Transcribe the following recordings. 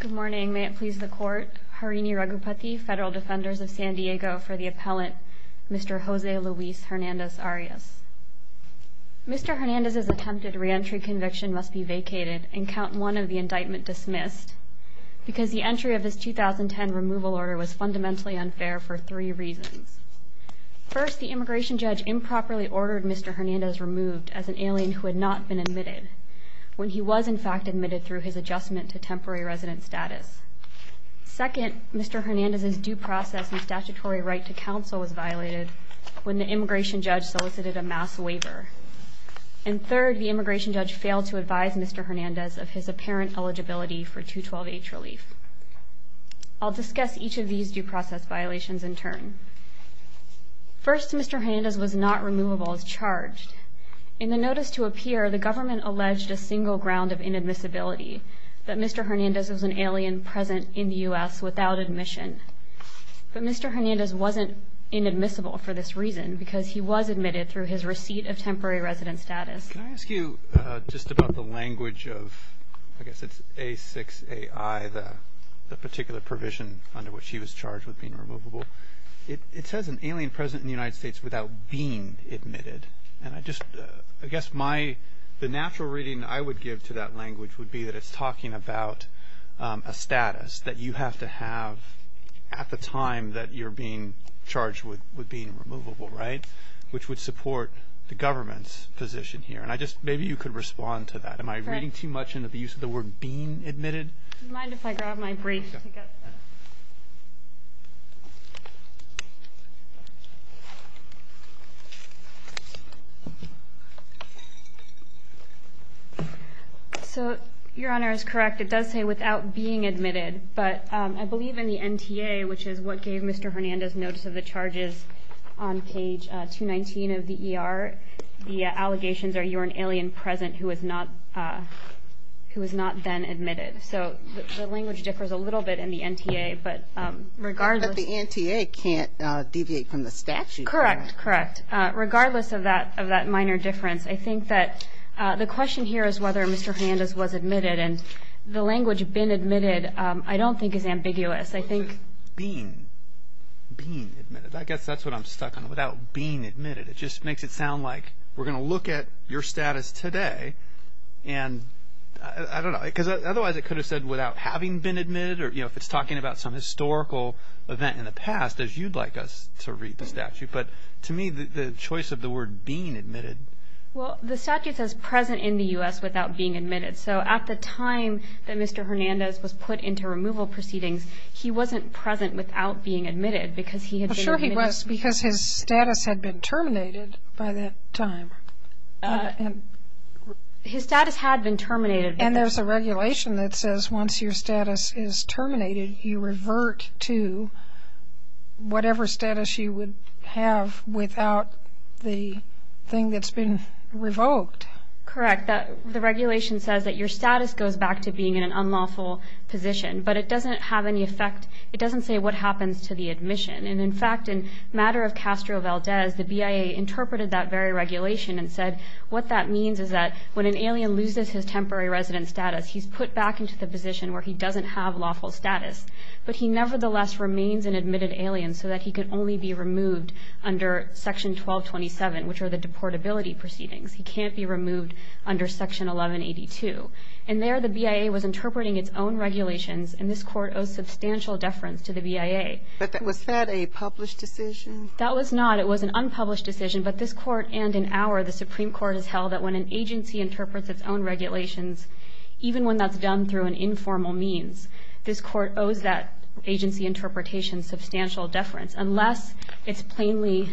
Good morning. May it please the court, Harini Raghupati, Federal Defenders of San Diego, for the appellant Mr. Jose Luis Hernandez-Arias. Mr. Hernandez's attempted reentry conviction must be vacated and count one of the indictment dismissed, because the entry of his 2010 removal order was fundamentally unfair for three reasons. First, the immigration judge improperly ordered Mr. Hernandez removed as an alien who had not been admitted, when he was in fact admitted through his adjustment to temporary resident status. Second, Mr. Hernandez's due process and statutory right to counsel was violated when the immigration judge solicited a mass waiver. And third, the immigration judge failed to advise Mr. Hernandez of his apparent eligibility for 212H relief. I'll discuss each of these due process violations in turn. First, Mr. Hernandez was not removable as charged. In the notice to appear, the government alleged a single ground of inadmissibility, that Mr. Hernandez was an alien present in the U.S. without admission. But Mr. Hernandez wasn't inadmissible for this reason, because he was admitted through his receipt of temporary resident status. Can I ask you just about the language of, I guess it's A6AI, the particular provision under which he was charged with being removable. It says an alien present in the United States without being admitted. And I just, I guess my, the natural reading I would give to that language would be that it's talking about a status that you have to have at the time that you're being charged with being removable, right? Which would support the government's position here. And I just, maybe you could respond to that. Am I reading too much into the use of the word being admitted? Do you mind if I grab my brief? So, Your Honor is correct. It does say without being admitted. But I believe in the NTA, which is what gave Mr. Hernandez notice of the charges on page 219 of the ER, the allegations are you're an alien present who was not then admitted. So, the language differs a little bit in the NTA. But regardless. But the NTA can't deviate from the statute. Correct, correct. Regardless of that minor difference, I think that the question here is whether Mr. Hernandez was admitted. And the language been admitted I don't think is ambiguous. I think. Being, being admitted. I guess that's what I'm stuck on, without being admitted. It just makes it sound like we're going to look at your status today and, I don't know. Because otherwise it could have said without having been admitted or, you know, if it's talking about some historical event in the past as you'd like us to read the statute. But to me the choice of the word being admitted. Well, the statute says present in the U.S. without being admitted. So, at the time that Mr. Hernandez was put into removal proceedings, he wasn't present without being admitted because he had been admitted. Well, sure he was because his status had been terminated by that time. His status had been terminated. And there's a regulation that says once your status is terminated, you revert to whatever status you would have without the thing that's been revoked. Correct. The regulation says that your status goes back to being in an unlawful position. But it doesn't have any effect. It doesn't say what happens to the admission. And, in fact, in matter of Castro Valdez, the BIA interpreted that very regulation and said, what that means is that when an alien loses his temporary resident status, he's put back into the position where he doesn't have lawful status. But he nevertheless remains an admitted alien so that he can only be removed under Section 1227, which are the deportability proceedings. He can't be removed under Section 1182. And there the BIA was interpreting its own regulations, and this court owes substantial deference to the BIA. But was that a published decision? That was not. It was an unpublished decision. But this court and in our, the Supreme Court, has held that when an agency interprets its own regulations, even when that's done through an informal means, this court owes that agency interpretation substantial deference unless it's plainly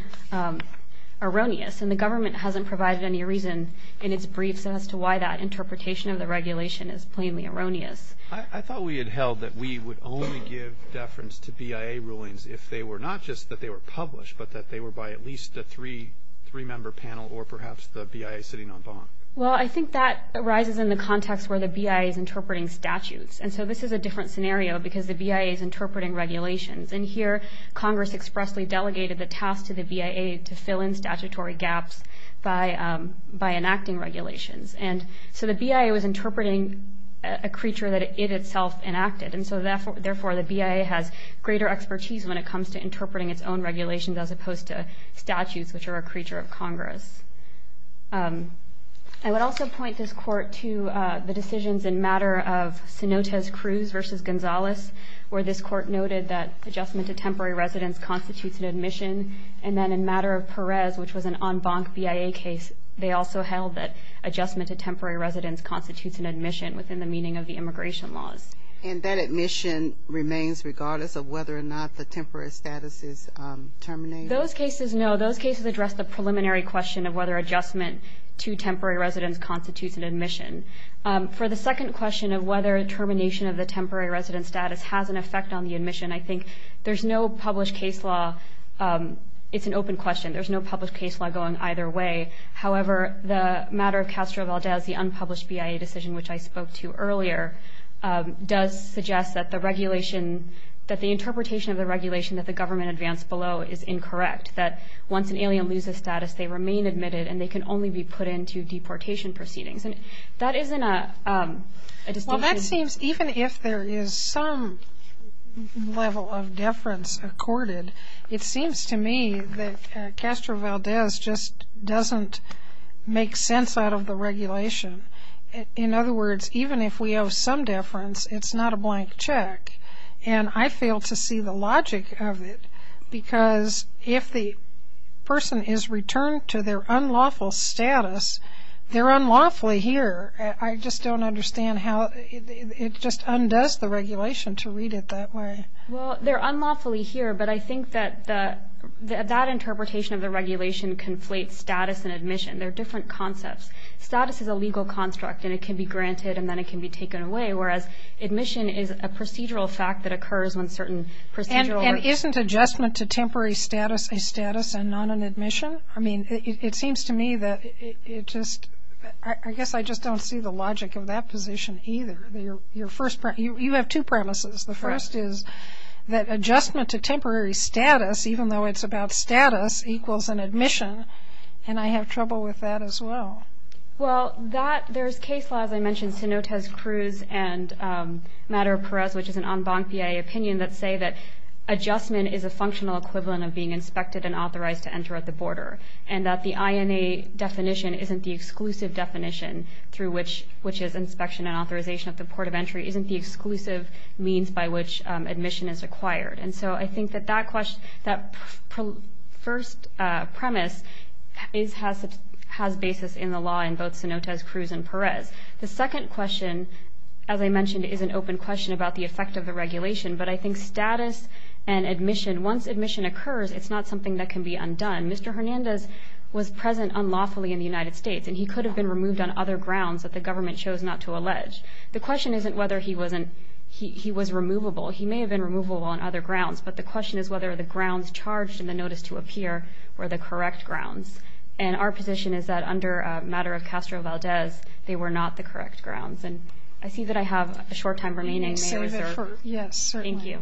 erroneous. And the government hasn't provided any reason in its briefs as to why that interpretation of the regulation is plainly erroneous. I thought we had held that we would only give deference to BIA rulings if they were not just that they were published but that they were by at least a three-member panel or perhaps the BIA sitting on bond. Well, I think that arises in the context where the BIA is interpreting statutes. And so this is a different scenario because the BIA is interpreting regulations. And here Congress expressly delegated the task to the BIA to fill in statutory gaps by enacting regulations. And so the BIA was interpreting a creature that it itself enacted. And so, therefore, the BIA has greater expertise when it comes to interpreting its own regulations as opposed to statutes, which are a creature of Congress. I would also point this court to the decisions in matter of Cenotes Cruz versus Gonzales, where this court noted that adjustment to temporary residence constitutes an admission. And then in matter of Perez, which was an en banc BIA case, they also held that adjustment to temporary residence constitutes an admission within the meaning of the immigration laws. And that admission remains regardless of whether or not the temporary status is terminated? Those cases, no. Those cases address the preliminary question of whether adjustment to temporary residence constitutes an admission. For the second question of whether termination of the temporary residence status has an effect on the admission, I think there's no published case law. It's an open question. There's no published case law going either way. However, the matter of Castro Valdez, the unpublished BIA decision, which I spoke to earlier, does suggest that the regulation, that the interpretation of the regulation that the government advanced below, is incorrect, that once an alien loses status, they remain admitted and they can only be put into deportation proceedings. And that isn't a distinction. Well, that seems, even if there is some level of deference accorded, it seems to me that Castro Valdez just doesn't make sense out of the regulation. In other words, even if we owe some deference, it's not a blank check. And I fail to see the logic of it, because if the person is returned to their unlawful status, they're unlawfully here. I just don't understand how it just undoes the regulation to read it that way. Well, they're unlawfully here, but I think that that interpretation of the regulation conflates status and admission. They're different concepts. Status is a legal construct, and it can be granted and then it can be taken away, whereas admission is a procedural fact that occurs when certain procedural rights. And isn't adjustment to temporary status a status and not an admission? I mean, it seems to me that it just – I guess I just don't see the logic of that position either. You have two premises. The first is that adjustment to temporary status, even though it's about status, equals an admission, and I have trouble with that as well. Well, there's case laws. I mentioned Cenotes Cruz and Madera-Perez, which is an en banquier opinion, that say that adjustment is a functional equivalent of being inspected and authorized to enter at the border, and that the INA definition isn't the exclusive definition, which is inspection and authorization at the port of entry, isn't the exclusive means by which admission is acquired. And so I think that that first premise has basis in the law in both Cenotes Cruz and Perez. The second question, as I mentioned, is an open question about the effect of the regulation, but I think status and admission, once admission occurs, it's not something that can be undone. Mr. Hernandez was present unlawfully in the United States, and he could have been removed on other grounds that the government chose not to allege. The question isn't whether he was removable. He may have been removable on other grounds, but the question is whether the grounds charged in the notice to appear were the correct grounds. And our position is that under Madera-Castro-Valdez, they were not the correct grounds. And I see that I have a short time remaining. Yes, certainly.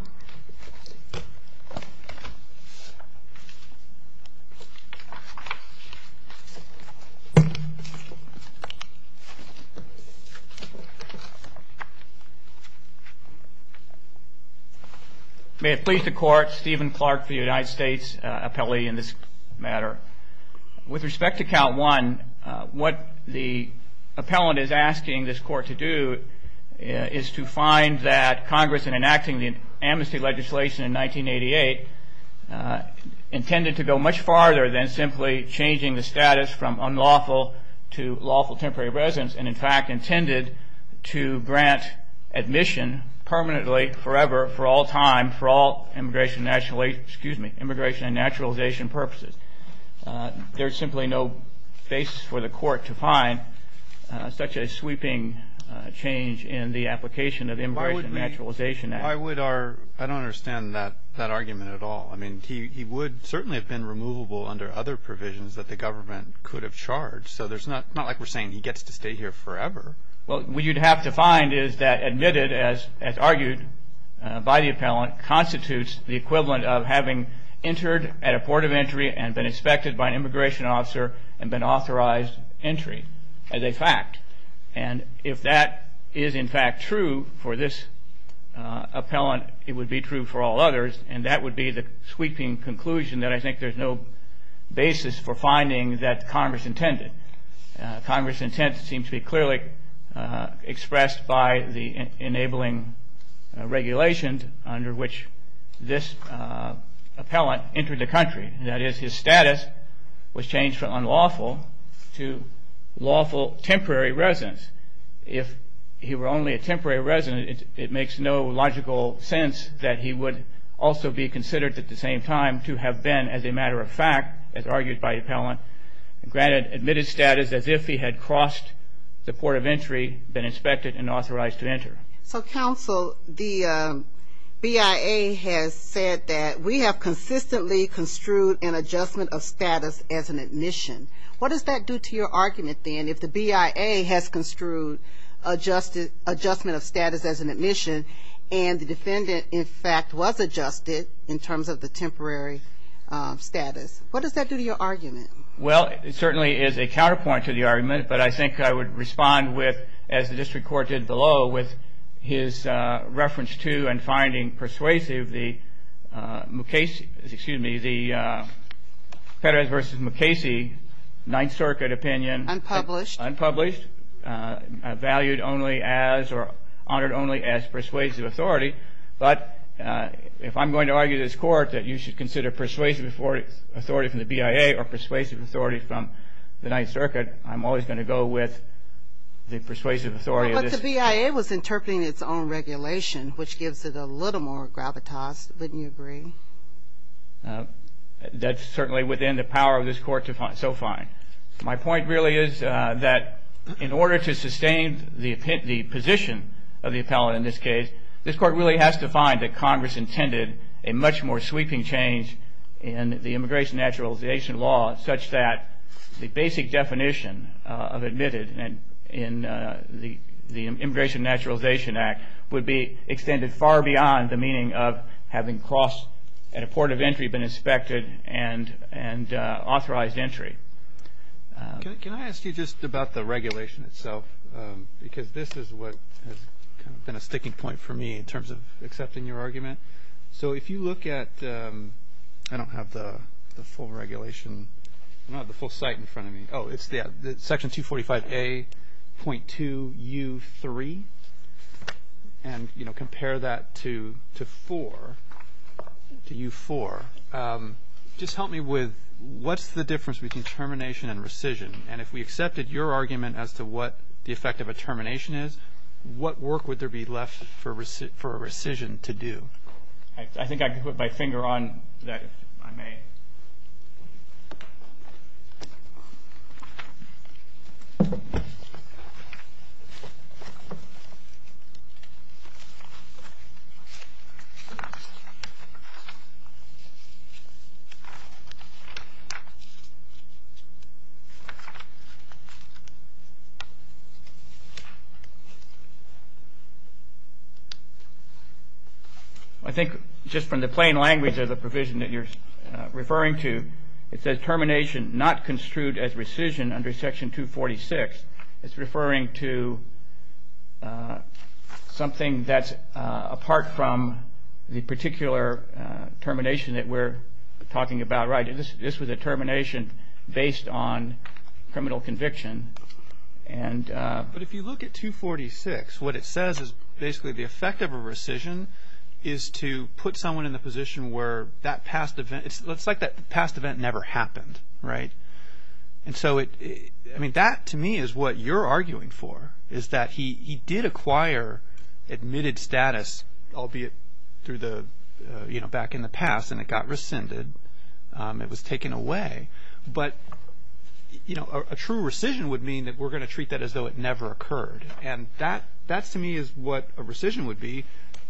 May it please the Court, Stephen Clark, the United States appellee in this matter. With respect to Count I, what the appellant is asking this Court to do is to find that Congress, in enacting the amnesty legislation in 1988, intended to go much farther than simply changing the status from unlawful to lawful temporary residence, and in fact intended to grant admission permanently, forever, for all time, for all immigration and naturalization purposes. There's simply no basis for the Court to find such a sweeping change in the application of the Immigration and Naturalization Act. Why would we? I don't understand that argument at all. I mean, he would certainly have been removable under other provisions that the government could have charged. So it's not like we're saying he gets to stay here forever. Well, what you'd have to find is that admitted, as argued by the appellant, constitutes the equivalent of having entered at a port of entry and been inspected by an immigration officer and been authorized entry as a fact. And if that is, in fact, true for this appellant, it would be true for all others, and that would be the sweeping conclusion that I think there's no basis for finding that Congress intended. Congress's intent seems to be clearly expressed by the enabling regulations under which this appellant entered the country. That is, his status was changed from unlawful to lawful temporary residence. If he were only a temporary resident, it makes no logical sense that he would also be considered at the same time to have been, as a matter of fact, as argued by the appellant, granted admitted status as if he had crossed the port of entry, been inspected, and authorized to enter. So, counsel, the BIA has said that we have consistently construed an adjustment of status as an admission. What does that do to your argument, then, if the BIA has construed adjustment of status as an admission and the defendant, in fact, was adjusted in terms of the temporary status? What does that do to your argument? Well, it certainly is a counterpoint to the argument, but I think I would respond with, as the district court did below with his reference to and finding persuasive the Mukasey, excuse me, the Federals v. Mukasey Ninth Circuit opinion. Unpublished. Unpublished, valued only as or honored only as persuasive authority. But if I'm going to argue this court that you should consider persuasive authority from the BIA or persuasive authority from the Ninth Circuit, I'm always going to go with the persuasive authority. But the BIA was interpreting its own regulation, which gives it a little more gravitas. Wouldn't you agree? That's certainly within the power of this court to find. My point really is that in order to sustain the position of the appellant in this case, this court really has to find that Congress intended a much more sweeping change in the immigration naturalization law such that the basic definition of admitted in the Immigration Naturalization Act would be extended far beyond the meaning of having crossed at a port of entry been inspected and authorized entry. Can I ask you just about the regulation itself? Because this is what has been a sticking point for me in terms of accepting your argument. So if you look at, I don't have the full regulation, not the full site in front of me. Oh, it's the section 245A.2U3. And, you know, compare that to 4, to U4. Just help me with what's the difference between termination and rescission? And if we accepted your argument as to what the effect of a termination is, what work would there be left for a rescission to do? I think I can put my finger on that, if I may. I think just from the plain language of the provision that you're referring to, it says termination not construed as rescission under section 246. It's referring to something that's apart from the particular termination that we're talking about. Right. This was a termination based on criminal conviction. But if you look at 246, what it says is basically the effect of a rescission is to put someone in the position where that past event, it's like that past event never happened. Right. And so, I mean, that to me is what you're arguing for, is that he did acquire admitted status, albeit through the, you know, back in the past, and it got rescinded, it was taken away. But, you know, a true rescission would mean that we're going to treat that as though it never occurred. And that, to me, is what a rescission would be.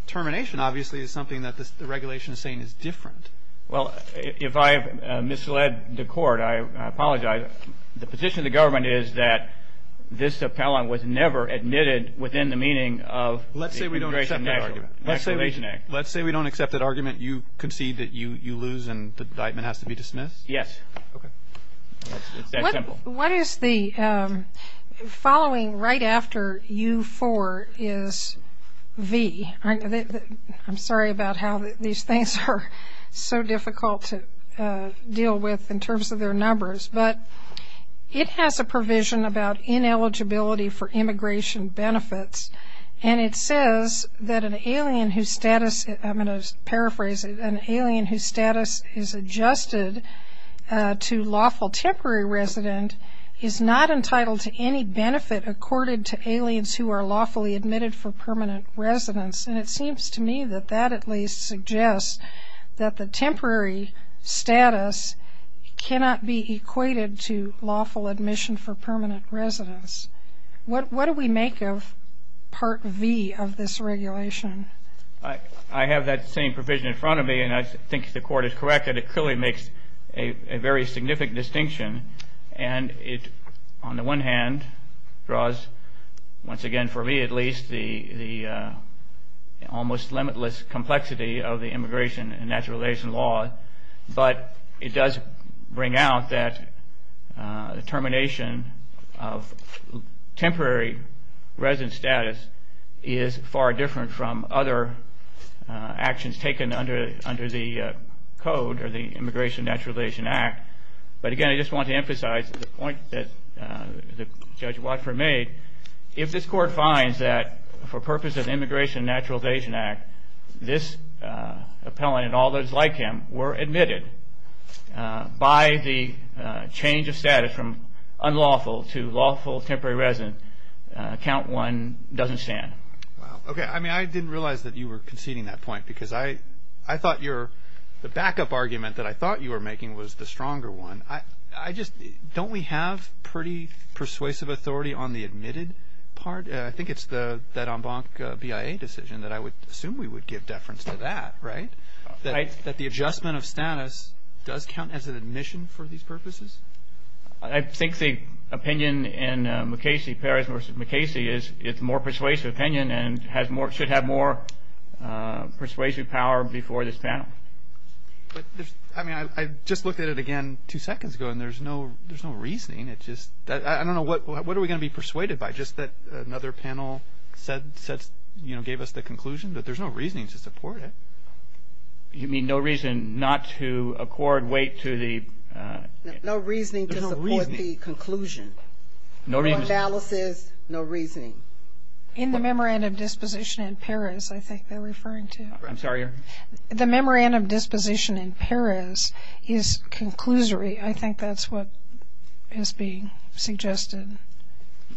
Termination, obviously, is something that the regulation is saying is different. Well, if I have misled the court, I apologize. The position of the government is that this appellant was never admitted within the meaning of the Immigration Act. Let's say we don't accept that argument. You concede that you lose and the indictment has to be dismissed? Yes. Okay. It's that simple. What is the following right after U4 is V? I'm sorry about how these things are so difficult to deal with in terms of their numbers, but it has a provision about ineligibility for immigration benefits, and it says that an alien whose status, I'm going to paraphrase it, an alien whose status is adjusted to lawful temporary resident is not entitled to any benefit accorded to aliens who are lawfully admitted for permanent residence. And it seems to me that that at least suggests that the temporary status cannot be equated to lawful admission for permanent residence. What do we make of Part V of this regulation? I have that same provision in front of me, and I think the court is correct that it clearly makes a very significant distinction. And it, on the one hand, draws, once again for me at least, the almost limitless complexity of the immigration and naturalization law, but it does bring out that the termination of temporary resident status is far different from other actions taken under the code or the Immigration and Naturalization Act. But again, I just want to emphasize the point that Judge Watford made. If this court finds that for purposes of the Immigration and Naturalization Act, this appellant and all those like him were admitted by the change of status from unlawful to lawful temporary resident, count one doesn't stand. Okay. I mean, I didn't realize that you were conceding that point, because I thought the backup argument that I thought you were making was the stronger one. Don't we have pretty persuasive authority on the admitted part? I think it's that en banc BIA decision that I would assume we would give deference to that, right? That the adjustment of status does count as an admission for these purposes? I think the opinion in McCasey, Perez v. McCasey, is it's a more persuasive opinion and should have more persuasive power before this panel. I mean, I just looked at it again two seconds ago, and there's no reasoning. I don't know, what are we going to be persuaded by? Just that another panel gave us the conclusion, but there's no reasoning to support it. You mean no reason not to accord weight to the? No reasoning to support the conclusion. No reason. No analysis, no reasoning. In the Memorandum of Disposition in Perez, I think they're referring to. I'm sorry? The Memorandum of Disposition in Perez is conclusory. I think that's what is being suggested.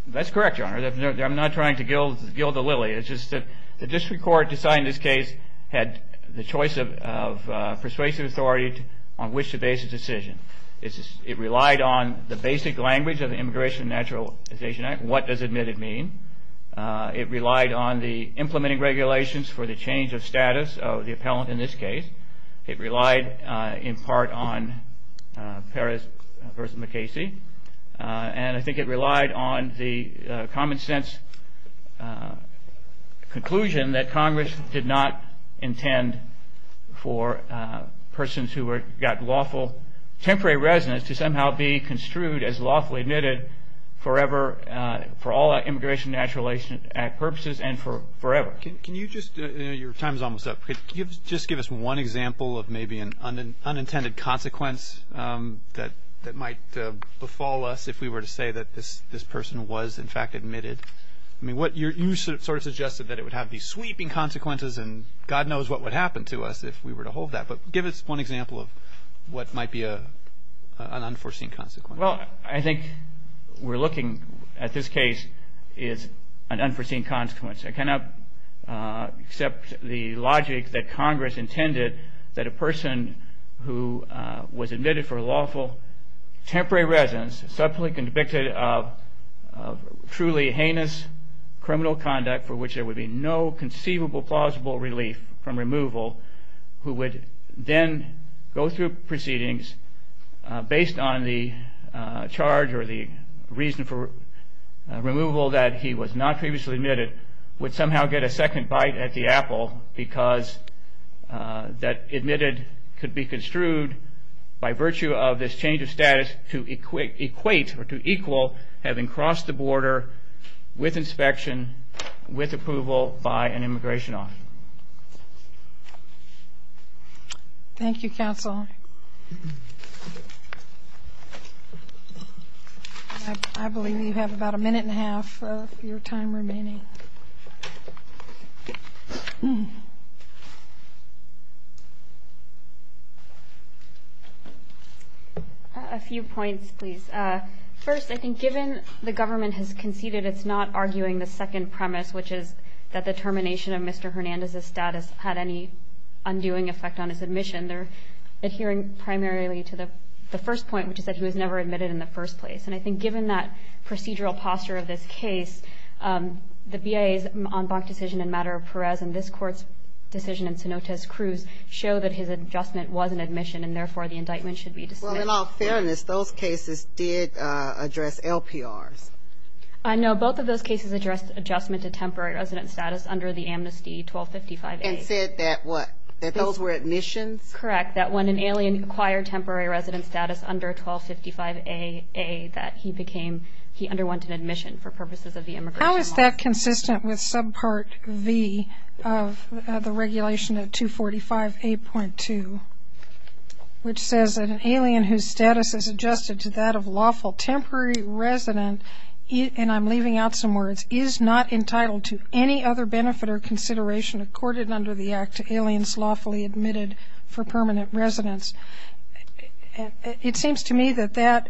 That's correct, Your Honor. I'm not trying to gild the lily. It's just that the district court deciding this case had the choice of persuasive authority on which to base a decision. It relied on the basic language of the Immigration and Naturalization Act, what does admitted mean. It relied on the implementing regulations for the change of status of the appellant in this case. It relied in part on Perez v. McKaysey. And I think it relied on the common sense conclusion that Congress did not intend for persons who got lawful temporary residence to somehow be construed as lawfully admitted forever for all Immigration and Naturalization Act purposes and forever. Can you just, your time is almost up, can you just give us one example of maybe an unintended consequence that might befall us if we were to say that this person was in fact admitted? I mean you sort of suggested that it would have these sweeping consequences and God knows what would happen to us if we were to hold that. But give us one example of what might be an unforeseen consequence. Well, I think we're looking at this case is an unforeseen consequence. I cannot accept the logic that Congress intended that a person who was admitted for lawful temporary residence subsequently convicted of truly heinous criminal conduct for which there would be no conceivable plausible relief from removal who would then go through proceedings based on the charge or the reason for removal that he was not previously admitted would somehow get a second bite at the apple because that admitted could be construed by virtue of this change of status to equate or to equal having crossed the border with inspection, with approval by an immigration office. Thank you, Counsel. I believe you have about a minute and a half of your time remaining. A few points, please. First, I think given the government has conceded it's not arguing the second premise, which is that the termination of Mr. Hernandez's status had any undoing effect on his admission, they're adhering primarily to the first point, which is that he was never admitted in the first place. And I think given that procedural posture of this case, the BIA's en banc decision in matter of Perez and this court's decision in Cenotes Cruz show that his adjustment was an admission and therefore the indictment should be dismissed. Well, in all fairness, those cases did address LPRs. No, both of those cases addressed adjustment to temporary resident status under the amnesty 1255A. And said that what? That those were admissions? That's correct, that when an alien acquired temporary resident status under 1255A, that he underwent an admission for purposes of the immigration law. How is that consistent with subpart V of the regulation of 245A.2, which says that an alien whose status is adjusted to that of lawful temporary resident, and I'm leaving out some words, is not entitled to any other benefit or consideration accorded under the act to aliens lawfully admitted for permanent residence. It seems to me that that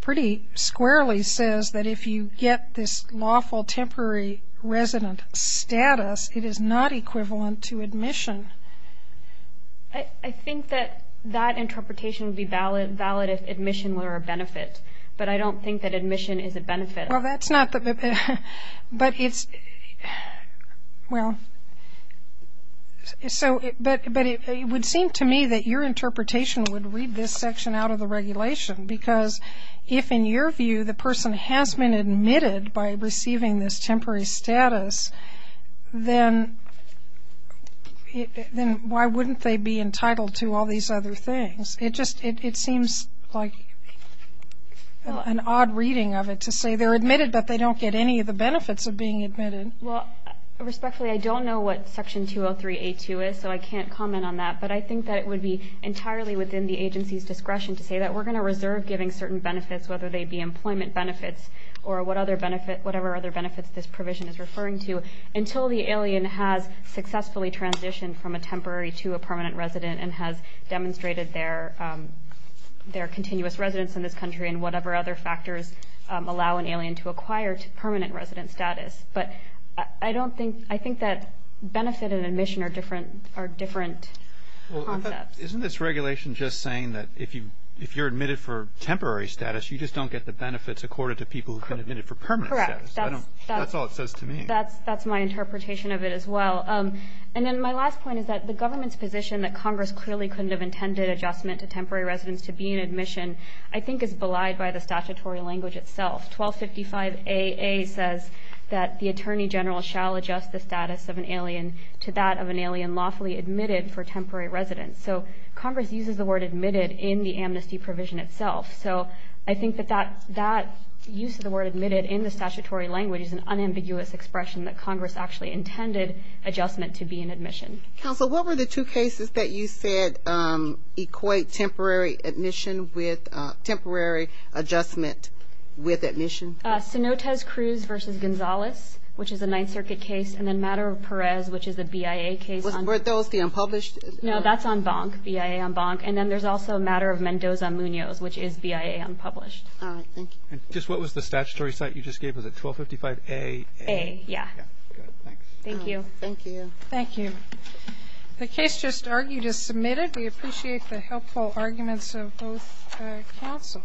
pretty squarely says that if you get this lawful temporary resident status, it is not equivalent to admission. I think that that interpretation would be valid if admission were a benefit, but I don't think that admission is a benefit. Well, that's not the, but it's, well, so, but it would seem to me that your interpretation would read this section out of the regulation, because if, in your view, the person has been admitted by receiving this temporary status, then why wouldn't they be entitled to all these other things? It just, it seems like an odd reading of it to say they're admitted, but they don't get any of the benefits of being admitted. Well, respectfully, I don't know what section 203A.2 is, so I can't comment on that, but I think that it would be entirely within the agency's discretion to say that we're going to reserve giving certain benefits, whether they be employment benefits or what other benefit, whatever other benefits this provision is referring to, until the alien has successfully transitioned from a temporary to a permanent resident and has demonstrated their continuous residence in this country and whatever other factors allow an alien to acquire permanent resident status. But I don't think, I think that benefit and admission are different concepts. Well, isn't this regulation just saying that if you're admitted for temporary status, you just don't get the benefits accorded to people who've been admitted for permanent status? Correct. That's all it says to me. That's my interpretation of it as well. And then my last point is that the government's position that Congress clearly couldn't have intended adjustment to temporary residence to be an admission I think is belied by the statutory language itself. 1255AA says that the attorney general shall adjust the status of an alien to that of an alien lawfully admitted for temporary residence. So Congress uses the word admitted in the amnesty provision itself. So I think that that use of the word admitted in the statutory language is an unambiguous expression that Congress actually intended adjustment to be an admission. Counsel, what were the two cases that you said equate temporary admission with temporary adjustment with admission? Cenotes Cruz v. Gonzalez, which is a Ninth Circuit case, and then Matter of Perez, which is a BIA case. Were those the unpublished? No, that's on Bonk, BIA on Bonk. And then there's also Matter of Mendoza-Munoz, which is BIA unpublished. All right. Thank you. And just what was the statutory site you just gave? Was it 1255AA? Yeah. Good. Thanks. Thank you. Thank you. The case just argued is submitted. We appreciate the helpful arguments of both counsel.